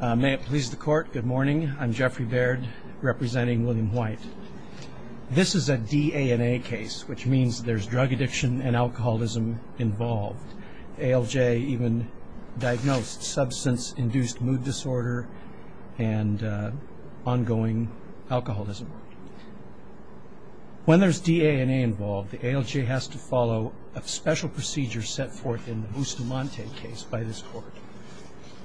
May it please the Court, good morning. I'm Jeffrey Baird, representing William White. This is a D-A-N-A case, which means there's drug addiction and alcoholism involved. ALJ even diagnosed substance-induced mood disorder and ongoing alcoholism. When there's D-A-N-A involved, the ALJ has to follow a special procedure set forth in the Bustamante case by this Court.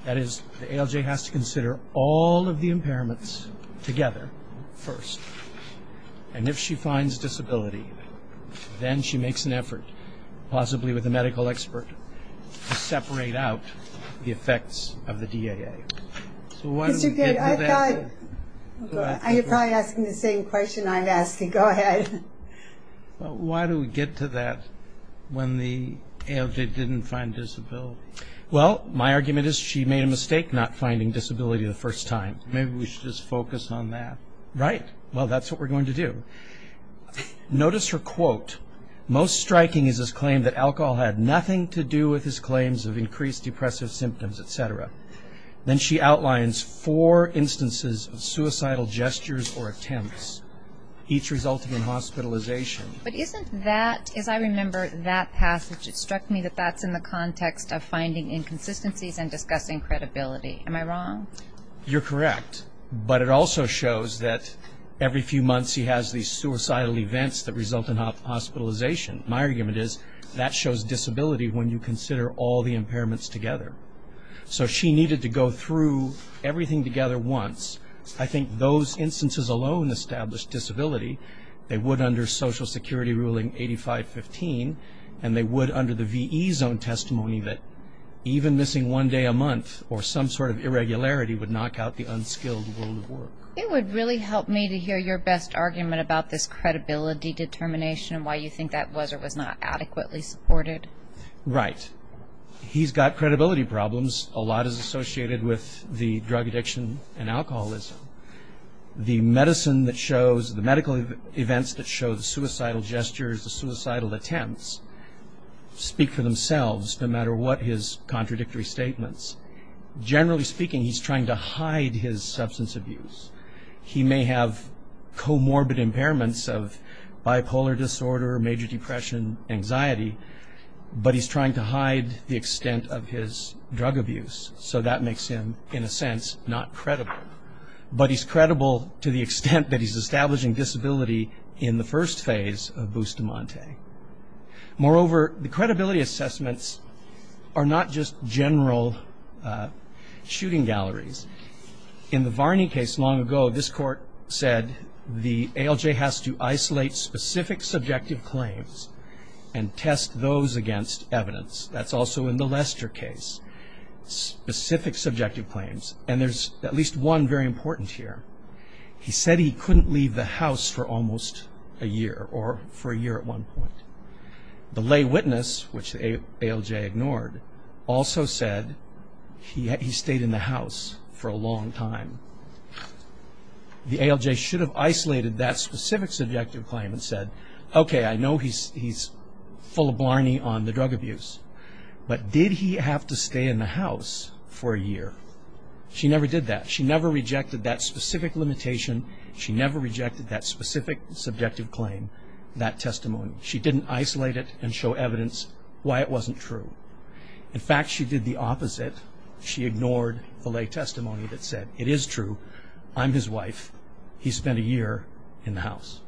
That is, the ALJ has to consider all of the impairments together first. And if she finds disability, then she makes an effort, possibly with a medical expert, to separate out the effects of the D-A-A. Mr. Baird, I thought you were probably asking the same question I'm asking. Go ahead. Why do we get to that when the ALJ didn't find disability? Well, my argument is she made a mistake not finding disability the first time. Maybe we should just focus on that. Right. Well, that's what we're going to do. Notice her quote. Most striking is his claim that alcohol had nothing to do with his claims of increased depressive symptoms, etc. Then she outlines four instances of suicidal gestures or attempts, each resulting in hospitalization. But isn't that, as I remember that passage, it struck me that that's in the context of finding inconsistencies and discussing credibility. Am I wrong? You're correct. But it also shows that every few months he has these suicidal events that result in hospitalization. My argument is that shows disability when you consider all the impairments together. So she needed to go through everything together once. I think those instances alone established disability. They would under Social Security ruling 8515. And they would under the VE zone testimony that even missing one day a month or some sort of irregularity would knock out the unskilled world of work. It would really help me to hear your best argument about this credibility determination and why you think that was or was not adequately supported. Right. He's got credibility problems. A lot is associated with the drug addiction and alcoholism. The medicine that shows, the medical events that show the suicidal gestures, the suicidal attempts speak for themselves no matter what his contradictory statements. Generally speaking, he's trying to hide his substance abuse. He may have comorbid impairments of bipolar disorder, major depression, anxiety, but he's trying to hide the extent of his drug abuse. So that makes him, in a sense, not credible. But he's credible to the extent that he's establishing disability in the first phase of Bustamante. Moreover, the credibility assessments are not just general shooting galleries. In the Varney case long ago, this court said the ALJ has to isolate specific subjective claims and test those against evidence. That's also in the Lester case, specific subjective claims. And there's at least one very important here. He said he couldn't leave the house for almost a year or for a year at one point. The lay witness, which the ALJ ignored, also said he stayed in the house for a long time. The ALJ should have isolated that specific subjective claim and said, okay, I know he's full of Blarney on the drug abuse, but did he have to stay in the house for a year? She never did that. She never rejected that specific limitation. She never rejected that specific subjective claim, that testimony. She didn't isolate it and show evidence why it wasn't true. In fact, she did the opposite. She ignored the lay testimony that said it is true. I'm his wife. He spent a year in the house.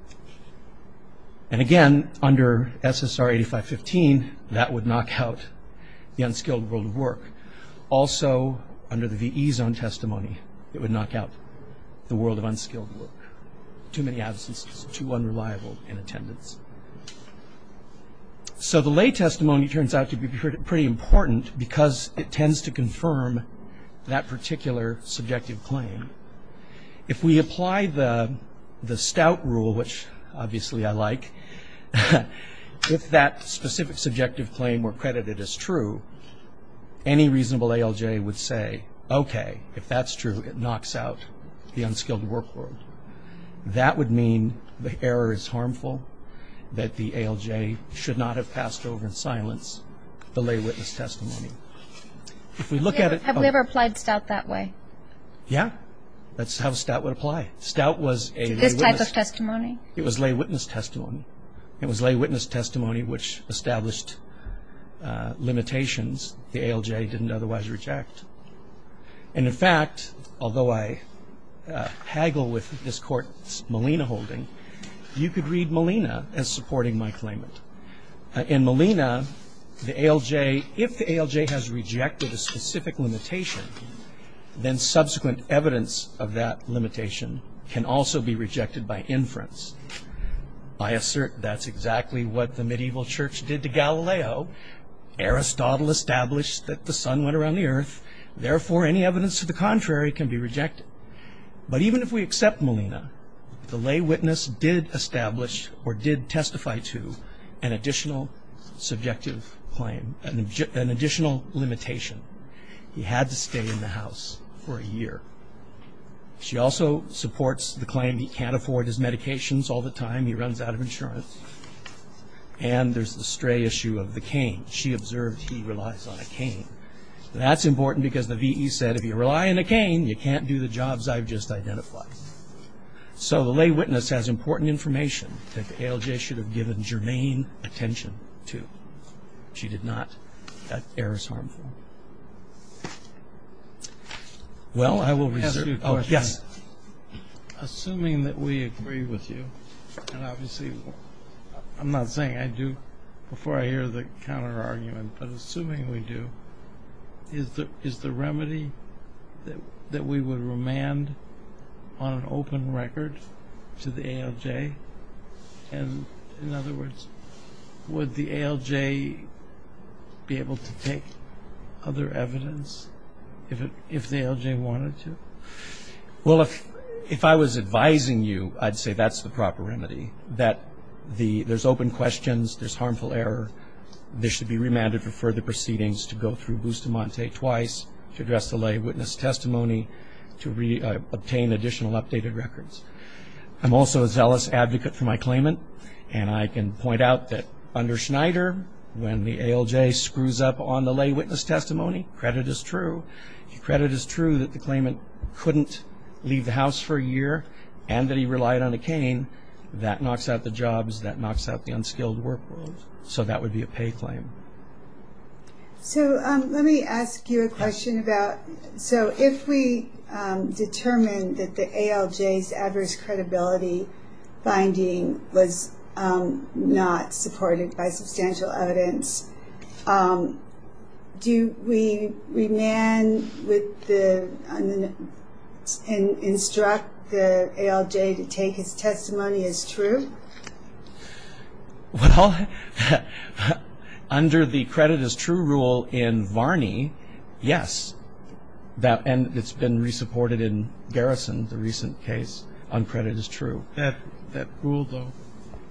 And again, under SSR 8515, that would knock out the unskilled world of work. Also, under the VE zone testimony, it would knock out the world of unskilled work. Too many absences, too unreliable in attendance. So the lay testimony turns out to be pretty important because it tends to confirm that particular subjective claim. If we apply the Stout rule, which obviously I like, if that specific subjective claim were credited as true, any reasonable ALJ would say, okay, if that's true, it knocks out the unskilled work world. That would mean the error is harmful, that the ALJ should not have passed over in silence the lay witness testimony. Have we ever applied Stout that way? Yeah. That's how Stout would apply. Stout was a lay witness. This type of testimony? It was lay witness testimony. It was lay witness testimony which established limitations the ALJ didn't otherwise reject. And in fact, although I haggle with this Court's Molina holding, you could read Molina as supporting my claimant. In Molina, if the ALJ has rejected a specific limitation, then subsequent evidence of that limitation can also be rejected by inference. I assert that's exactly what the medieval church did to Galileo. Aristotle established that the sun went around the earth. Therefore, any evidence to the contrary can be rejected. But even if we accept Molina, the lay witness did establish or did testify to an additional subjective claim, an additional limitation. He had to stay in the house for a year. She also supports the claim he can't afford his medications all the time. He runs out of insurance. And there's the stray issue of the cane. She observed he relies on a cane. That's important because the VE said if you rely on a cane, you can't do the jobs I've just identified. So the lay witness has important information that the ALJ should have given germane attention to. She did not. That error is harmful. Well, I will reserve. Oh, yes. Assuming that we agree with you, and obviously I'm not saying I do before I hear the counterargument, but assuming we do, is the remedy that we would remand on an open record to the ALJ? And, in other words, would the ALJ be able to take other evidence if the ALJ wanted to? Well, if I was advising you, I'd say that's the proper remedy, that there's open questions, there's harmful error, there should be remanded for further proceedings to go through Bustamante twice, to address the lay witness testimony, to obtain additional updated records. I'm also a zealous advocate for my claimant, and I can point out that under Schneider, when the ALJ screws up on the lay witness testimony, credit is true. If credit is true that the claimant couldn't leave the house for a year and that he relied on a cane, that knocks out the jobs, that knocks out the unskilled work load. So that would be a pay claim. So let me ask you a question about, so if we determined that the ALJ's adverse credibility finding was not supported by substantial evidence, do we remand and instruct the ALJ to take his testimony as true? Well, under the credit is true rule in Varney, yes. And it's been re-supported in Garrison, the recent case on credit is true. That rule, though,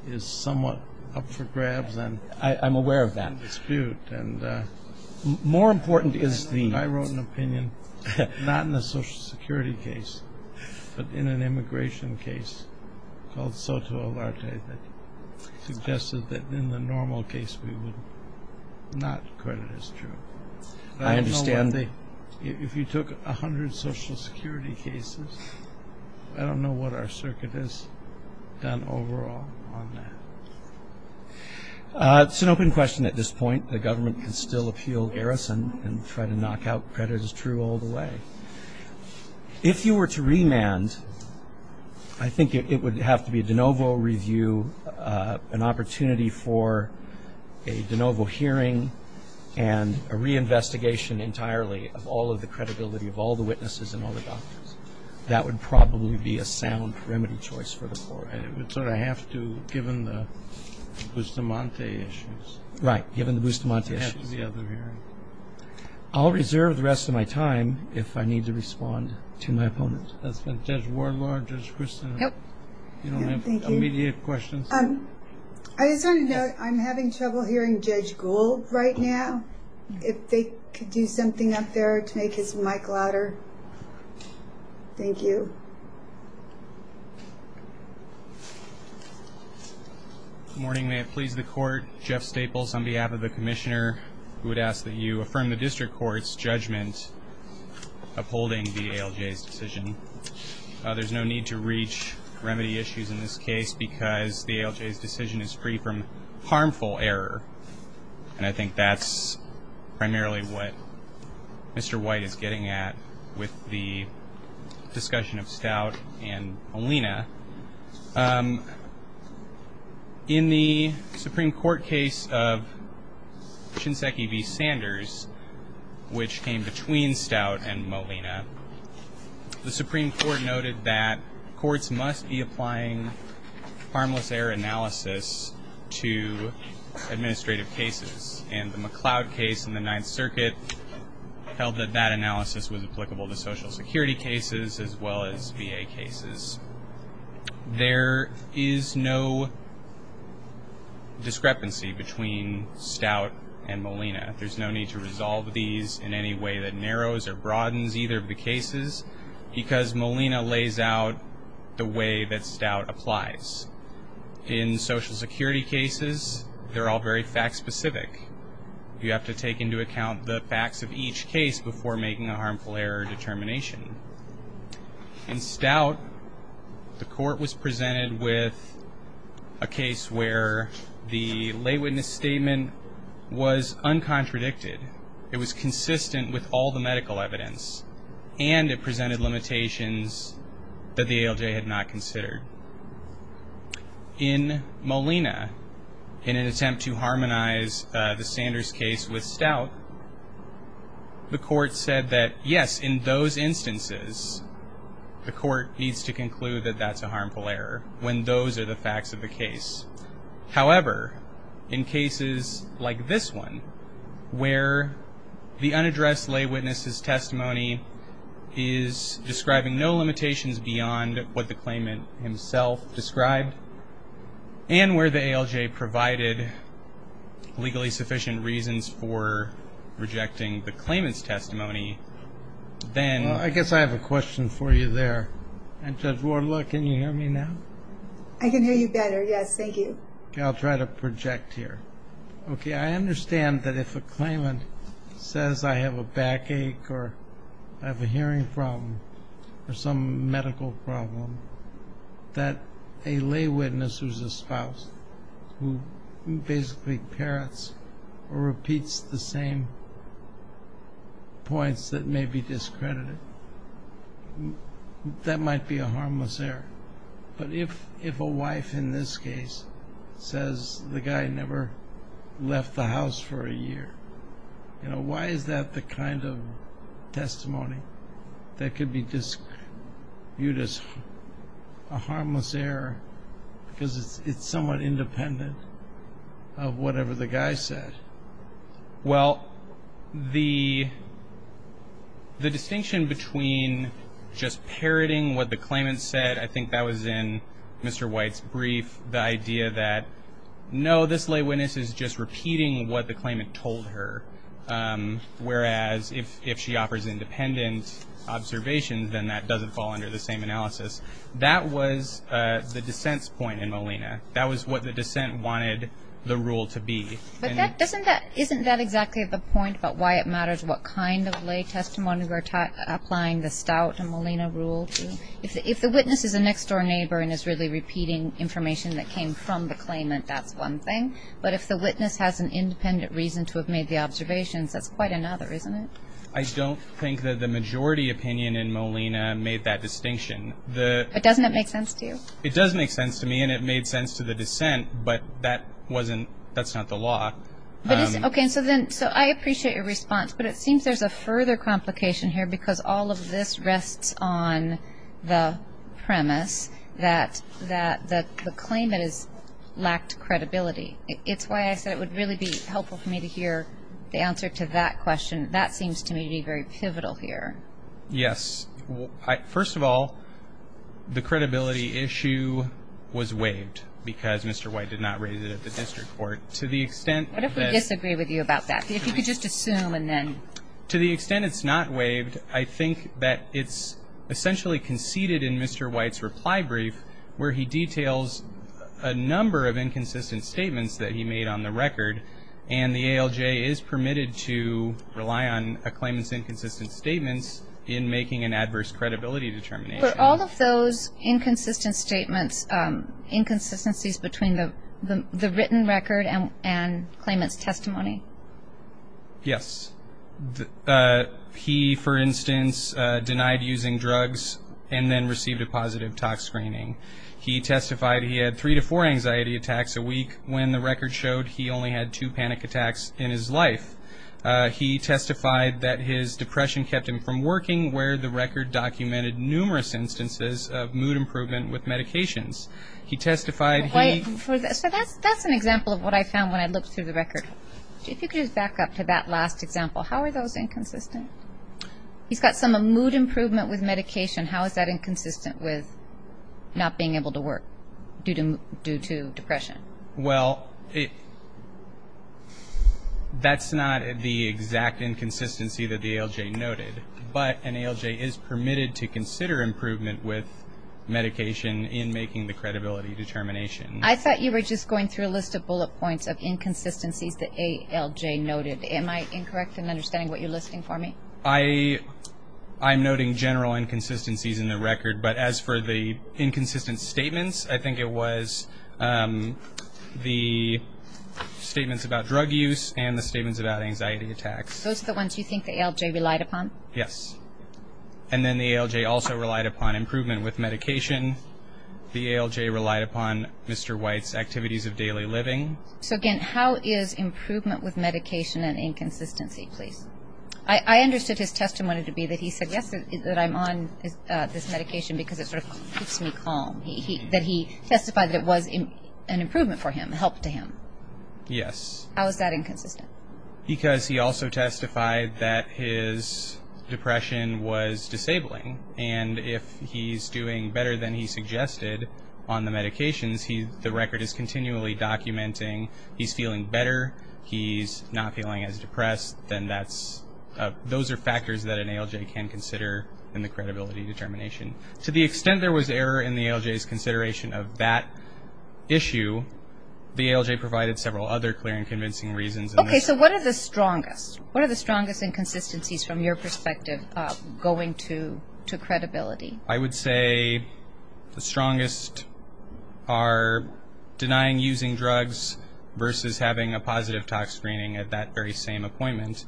is somewhat up for grabs and dispute. I'm aware of that. More important is the – I wrote an opinion, not in the Social Security case, but in an immigration case called Soto Alarte that suggested that in the normal case we would not credit as true. I understand the – If you took 100 Social Security cases, I don't know what our circuit has done overall on that. It's an open question at this point. The government can still appeal Garrison and try to knock out credit as true all the way. If you were to remand, I think it would have to be a de novo review, an opportunity for a de novo hearing, and a reinvestigation entirely of all of the credibility of all the witnesses and all the doctors. That would probably be a sound remedy choice for the court. It would sort of have to, given the Bustamante issues. Right, given the Bustamante issues. It would have to be other hearing. I'll reserve the rest of my time if I need to respond to my opponent. That's been Judge Wardlaw, Judge Christin. Yep. You don't have immediate questions? I just wanted to note, I'm having trouble hearing Judge Gould right now. If they could do something up there to make his mic louder. Thank you. Good morning. May it please the court, Jeff Staples on behalf of the commissioner who would ask that you affirm the district court's judgment upholding the ALJ's decision. There's no need to reach remedy issues in this case because the ALJ's decision is free from harmful error, and I think that's primarily what Mr. White is getting at with the discussion of Stout and Molina. In the Supreme Court case of Shinseki v. Sanders, which came between Stout and Molina, the Supreme Court noted that courts must be applying harmless error analysis to administrative cases, and the McLeod case in the Ninth Circuit held that that analysis was applicable to Social Security cases as well as VA cases. There is no discrepancy between Stout and Molina. There's no need to resolve these in any way that narrows or broadens either of the cases because Molina lays out the way that Stout applies. In Social Security cases, they're all very fact-specific. You have to take into account the facts of each case before making a harmful error determination. In Stout, the court was presented with a case where the lay witness statement was uncontradicted. It was consistent with all the medical evidence, and it presented limitations that the ALJ had not considered. In Molina, in an attempt to harmonize the Sanders case with Stout, the court said that, yes, in those instances, the court needs to conclude that that's a harmful error when those are the facts of the case. However, in cases like this one, where the unaddressed lay witness's testimony is describing no limitations beyond what the claimant himself described, and where the ALJ provided legally sufficient reasons for rejecting the claimant's testimony, then- Well, I guess I have a question for you there. And Judge Wardlock, can you hear me now? I can hear you better, yes. Thank you. Okay, I'll try to project here. Okay, I understand that if a claimant says, I have a backache, or I have a hearing problem, or some medical problem, that a lay witness who's a spouse, who basically parrots or repeats the same points that may be discredited, that might be a harmless error. But if a wife in this case says the guy never left the house for a year, why is that the kind of testimony that could be viewed as a harmless error? Because it's somewhat independent of whatever the guy said. Well, the distinction between just parroting what the claimant said, I think that was in Mr. White's brief, the idea that, no, this lay witness is just repeating what the claimant told her. Whereas if she offers independent observations, then that doesn't fall under the same analysis. That was the dissent's point in Molina. That was what the dissent wanted the rule to be. But isn't that exactly the point about why it matters what kind of lay testimony we're applying the Stout and Molina rule to? If the witness is a next-door neighbor and is really repeating information that came from the claimant, that's one thing. But if the witness has an independent reason to have made the observations, that's quite another, isn't it? I don't think that the majority opinion in Molina made that distinction. But doesn't it make sense to you? It does make sense to me, and it made sense to the dissent. But that's not the law. Okay, so I appreciate your response. But it seems there's a further complication here because all of this rests on the premise that the claimant has lacked credibility. It's why I said it would really be helpful for me to hear the answer to that question. That seems to me to be very pivotal here. Yes. First of all, the credibility issue was waived because Mr. White did not raise it at the district court. What if we disagree with you about that? If you could just assume and then. To the extent it's not waived, I think that it's essentially conceded in Mr. White's reply brief where he details a number of inconsistent statements that he made on the record, and the ALJ is permitted to rely on a claimant's inconsistent statements in making an adverse credibility determination. Were all of those inconsistent statements inconsistencies between the written record and claimant's testimony? Yes. He, for instance, denied using drugs and then received a positive tox screening. He testified he had three to four anxiety attacks a week when the record showed he only had two panic attacks in his life. He testified that his depression kept him from working where the record documented numerous instances of mood improvement with medications. He testified he. So that's an example of what I found when I looked through the record. If you could just back up to that last example. How are those inconsistent? He's got some mood improvement with medication. How is that inconsistent with not being able to work due to depression? Well, that's not the exact inconsistency that the ALJ noted, but an ALJ is permitted to consider improvement with medication in making the credibility determination. I thought you were just going through a list of bullet points of inconsistencies that ALJ noted. Am I incorrect in understanding what you're listing for me? I'm noting general inconsistencies in the record, but as for the inconsistent statements, I think it was the statements about drug use and the statements about anxiety attacks. Those are the ones you think the ALJ relied upon? Yes. And then the ALJ also relied upon improvement with medication. The ALJ relied upon Mr. White's activities of daily living. I understood his testimony to be that he suggested that I'm on this medication because it sort of keeps me calm. That he testified that it was an improvement for him, a help to him. Yes. How is that inconsistent? Because he also testified that his depression was disabling, and if he's doing better than he suggested on the medications, the record is continually documenting he's feeling better, he's not feeling as depressed, then those are factors that an ALJ can consider in the credibility determination. To the extent there was error in the ALJ's consideration of that issue, the ALJ provided several other clear and convincing reasons. Okay, so what are the strongest? What are the strongest inconsistencies from your perspective going to credibility? I would say the strongest are denying using drugs versus having a positive tox screening at that very same appointment.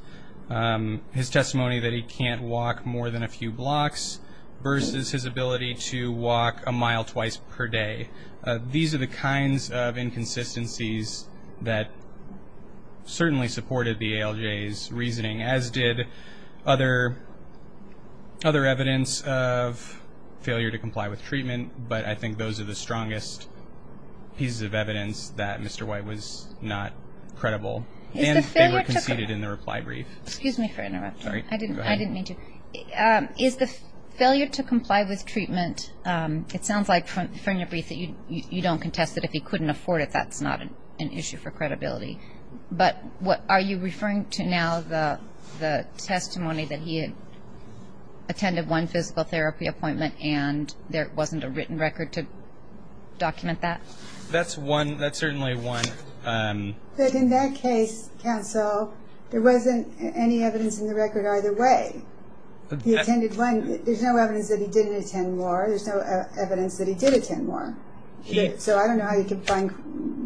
His testimony that he can't walk more than a few blocks versus his ability to walk a mile twice per day. These are the kinds of inconsistencies that certainly supported the ALJ's reasoning, as did other evidence of failure to comply with treatment, but I think those are the strongest pieces of evidence that Mr. White was not credible. And they were conceded in the reply brief. Excuse me for interrupting. Sorry. I didn't mean to. Is the failure to comply with treatment, it sounds like from your brief that you don't contest that if he couldn't afford it, that's not an issue for credibility. But are you referring to now the testimony that he attended one physical therapy appointment and there wasn't a written record to document that? That's certainly one. But in that case, counsel, there wasn't any evidence in the record either way. He attended one. There's no evidence that he didn't attend more. There's no evidence that he did attend more. So I don't know how you can find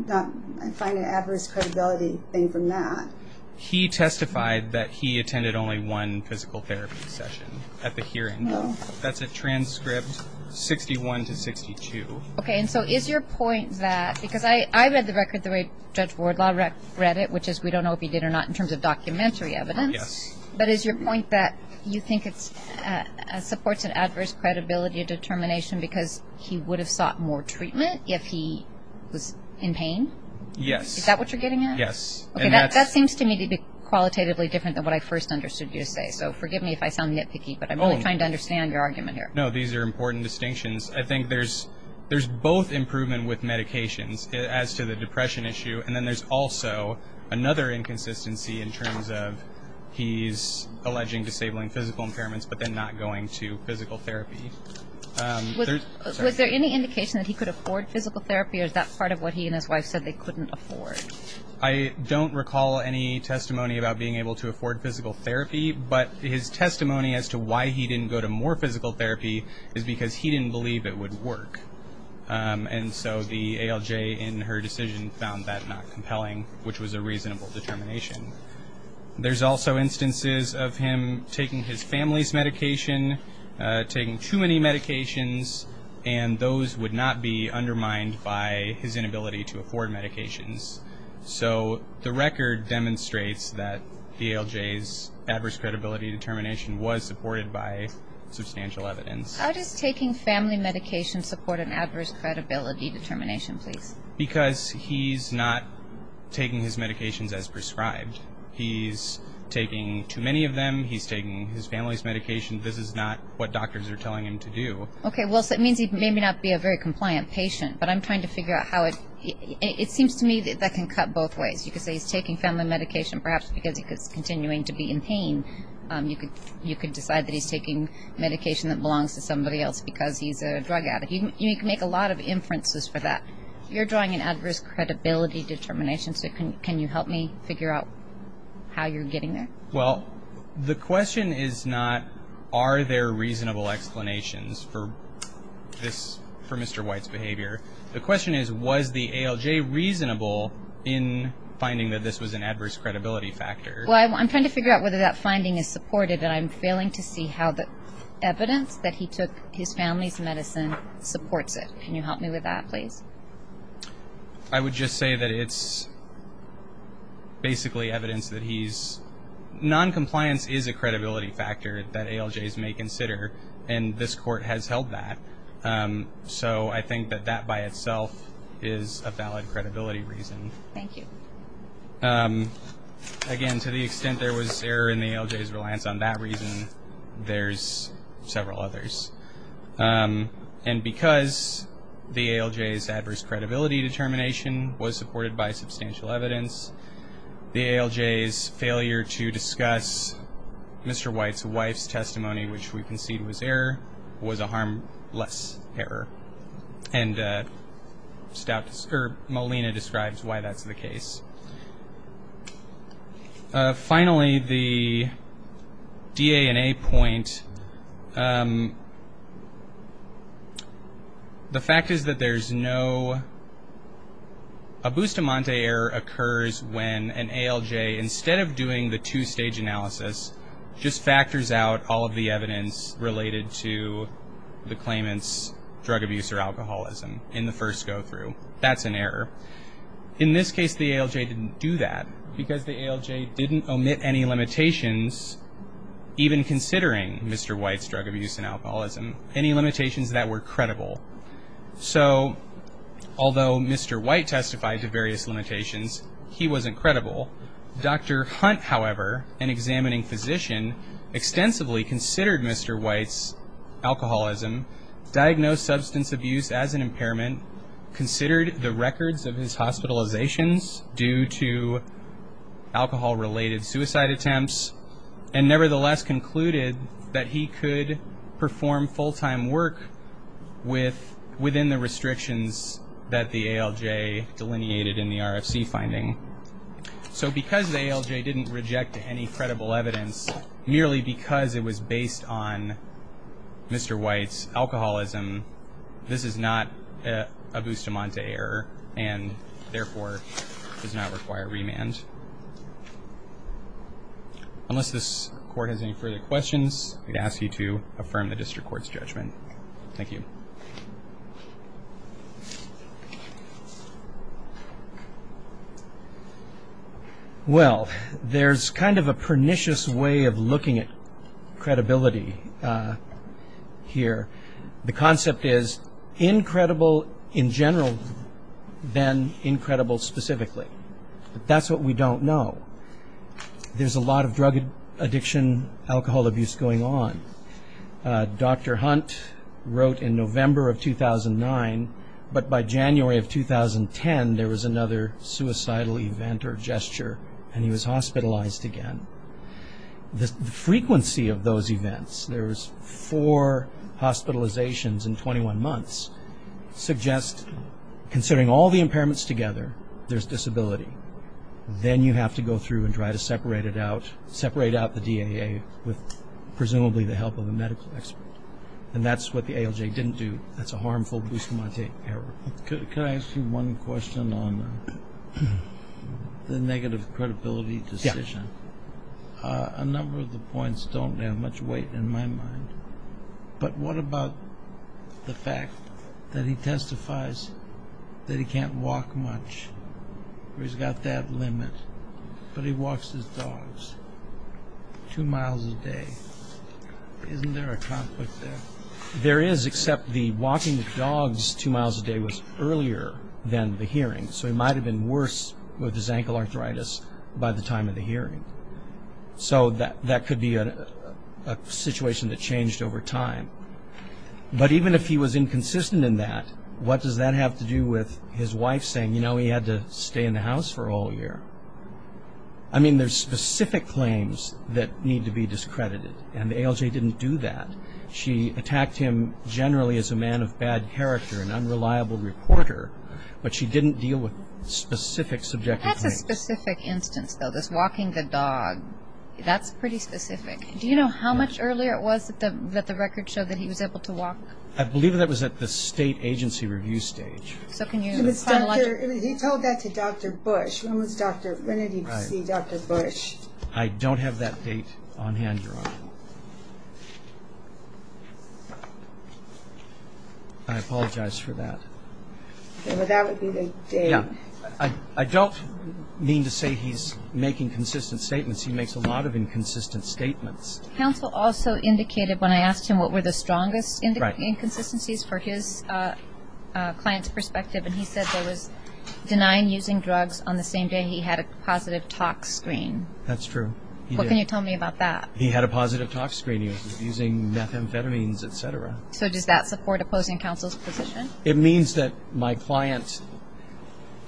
an adverse credibility thing from that. He testified that he attended only one physical therapy session at the hearing. No. That's at transcript 61 to 62. Okay. And so is your point that, because I read the record the way Judge Wardlaw read it, which is we don't know if he did or not in terms of documentary evidence. Yes. But is your point that you think it supports an adverse credibility determination because he would have sought more treatment if he was in pain? Yes. Is that what you're getting at? Yes. Okay, that seems to me to be qualitatively different than what I first understood you to say. So forgive me if I sound nitpicky, but I'm only trying to understand your argument here. No, these are important distinctions. I think there's both improvement with medications as to the depression issue, and then there's also another inconsistency in terms of he's alleging disabling physical impairments but then not going to physical therapy. Was there any indication that he could afford physical therapy, or is that part of what he and his wife said they couldn't afford? I don't recall any testimony about being able to afford physical therapy, but his testimony as to why he didn't go to more physical therapy is because he didn't believe it would work. And so the ALJ in her decision found that not compelling, which was a reasonable determination. There's also instances of him taking his family's medication, taking too many medications, and those would not be undermined by his inability to afford medications. So the record demonstrates that the ALJ's adverse credibility determination was supported by substantial evidence. How does taking family medication support an adverse credibility determination, please? Because he's not taking his medications as prescribed. He's taking too many of them. He's taking his family's medication. This is not what doctors are telling him to do. Okay, well, so it means he may not be a very compliant patient, but I'm trying to figure out how it seems to me that that can cut both ways. You could say he's taking family medication perhaps because he's continuing to be in pain. You could decide that he's taking medication that belongs to somebody else because he's a drug addict. You can make a lot of inferences for that. You're drawing an adverse credibility determination, so can you help me figure out how you're getting there? Well, the question is not are there reasonable explanations for this, for Mr. White's behavior. The question is was the ALJ reasonable in finding that this was an adverse credibility factor? Well, I'm trying to figure out whether that finding is supported, but I'm failing to see how the evidence that he took his family's medicine supports it. Can you help me with that, please? I would just say that it's basically evidence that he's non-compliance is a credibility factor that ALJs may consider, and this court has held that. So I think that that by itself is a valid credibility reason. Thank you. Again, to the extent there was error in the ALJ's reliance on that reason, there's several others. And because the ALJ's adverse credibility determination was supported by substantial evidence, the ALJ's failure to discuss Mr. White's wife's testimony, which we concede was error, was a harmless error. And Molina describes why that's the case. Finally, the D, A, and A point. The fact is that there's no – a Bustamante error occurs when an ALJ, instead of doing the two-stage analysis, just factors out all of the evidence related to the claimant's drug abuse or alcoholism in the first go-through. That's an error. In this case, the ALJ didn't do that because the ALJ didn't omit any limitations, even considering Mr. White's drug abuse and alcoholism, any limitations that were credible. So although Mr. White testified to various limitations, he wasn't credible. Dr. Hunt, however, an examining physician, extensively considered Mr. White's alcoholism, diagnosed substance abuse as an impairment, considered the records of his hospitalizations due to alcohol-related suicide attempts, and nevertheless concluded that he could perform full-time work within the restrictions that the ALJ delineated in the RFC finding. So because the ALJ didn't reject any credible evidence, merely because it was based on Mr. White's alcoholism, this is not a Bustamante error and, therefore, does not require remand. Unless this Court has any further questions, I'd ask you to affirm the District Court's judgment. Thank you. Well, there's kind of a pernicious way of looking at credibility here. The concept is, incredible in general, then incredible specifically. That's what we don't know. There's a lot of drug addiction, alcohol abuse going on. Dr. Hunt wrote in November of 2009, but by January of 2010, there was another suicidal event or gesture, and he was hospitalized again. The frequency of those events, there was four hospitalizations in 21 months, suggest, considering all the impairments together, there's disability. Then you have to go through and try to separate it out, separate out the DAA with presumably the help of a medical expert, and that's what the ALJ didn't do. That's a harmful Bustamante error. Could I ask you one question on the negative credibility decision? Yes. A number of the points don't have much weight in my mind, but what about the fact that he testifies that he can't walk much, or he's got that limit, but he walks his dogs two miles a day. Isn't there a conflict there? There is, except the walking the dogs two miles a day was earlier than the hearing, so he might have been worse with his ankle arthritis by the time of the hearing. So that could be a situation that changed over time. But even if he was inconsistent in that, what does that have to do with his wife saying, you know, he had to stay in the house for all year? I mean, there's specific claims that need to be discredited, and the ALJ didn't do that. She attacked him generally as a man of bad character, an unreliable reporter, but she didn't deal with specific subjective claims. That's a specific instance, though, this walking the dog. That's pretty specific. Do you know how much earlier it was that the record showed that he was able to walk? I believe that was at the state agency review stage. He told that to Dr. Bush. When did he see Dr. Bush? I don't have that date on hand, Your Honor. I apologize for that. That would be the date. I don't mean to say he's making consistent statements. He makes a lot of inconsistent statements. Counsel also indicated when I asked him what were the strongest inconsistencies for his client's perspective, and he said there was denying using drugs on the same day he had a positive talk screen. That's true. What can you tell me about that? He had a positive talk screen. He was using methamphetamines, et cetera. So does that support opposing counsel's position? It means that my client,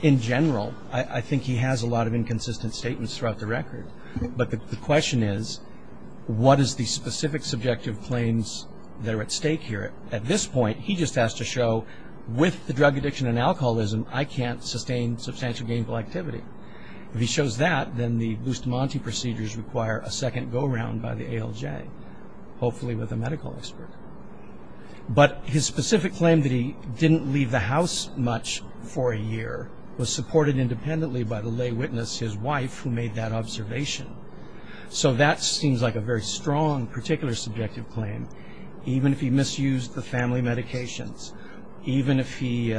in general, I think he has a lot of inconsistent statements throughout the record. But the question is what is the specific subjective claims that are at stake here? At this point, he just has to show with the drug addiction and alcoholism, I can't sustain substantial gainful activity. If he shows that, then the Bustamante procedures require a second go-around by the ALJ, hopefully with a medical expert. But his specific claim that he didn't leave the house much for a year was supported independently by the lay witness, his wife, who made that observation. So that seems like a very strong particular subjective claim, even if he misused the family medications, even if he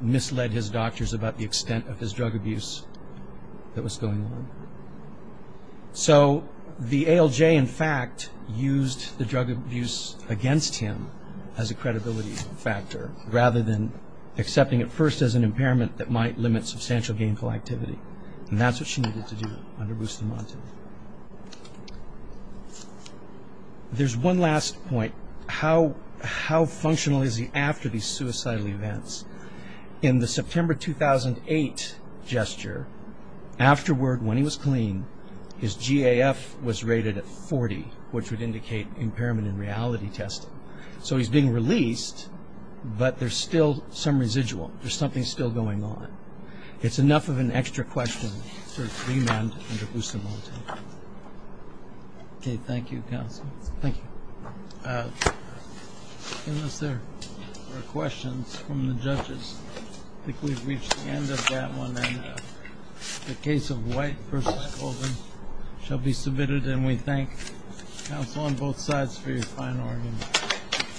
misled his doctors about the extent of his drug abuse that was going on. So the ALJ, in fact, used the drug abuse against him as a credibility factor, rather than accepting it first as an impairment that might limit substantial gainful activity. And that's what she needed to do under Bustamante. There's one last point. How functional is he after these suicidal events? In the September 2008 gesture, afterward, when he was clean, his GAF was rated at 40, which would indicate impairment in reality testing. So he's being released, but there's still some residual. There's something still going on. It's enough of an extra question to remand under Bustamante. Okay, thank you, counsel. Thank you. Unless there are questions from the judges. I think we've reached the end of that one. The case of White v. Goldman shall be submitted, and we thank counsel on both sides for your fine argument.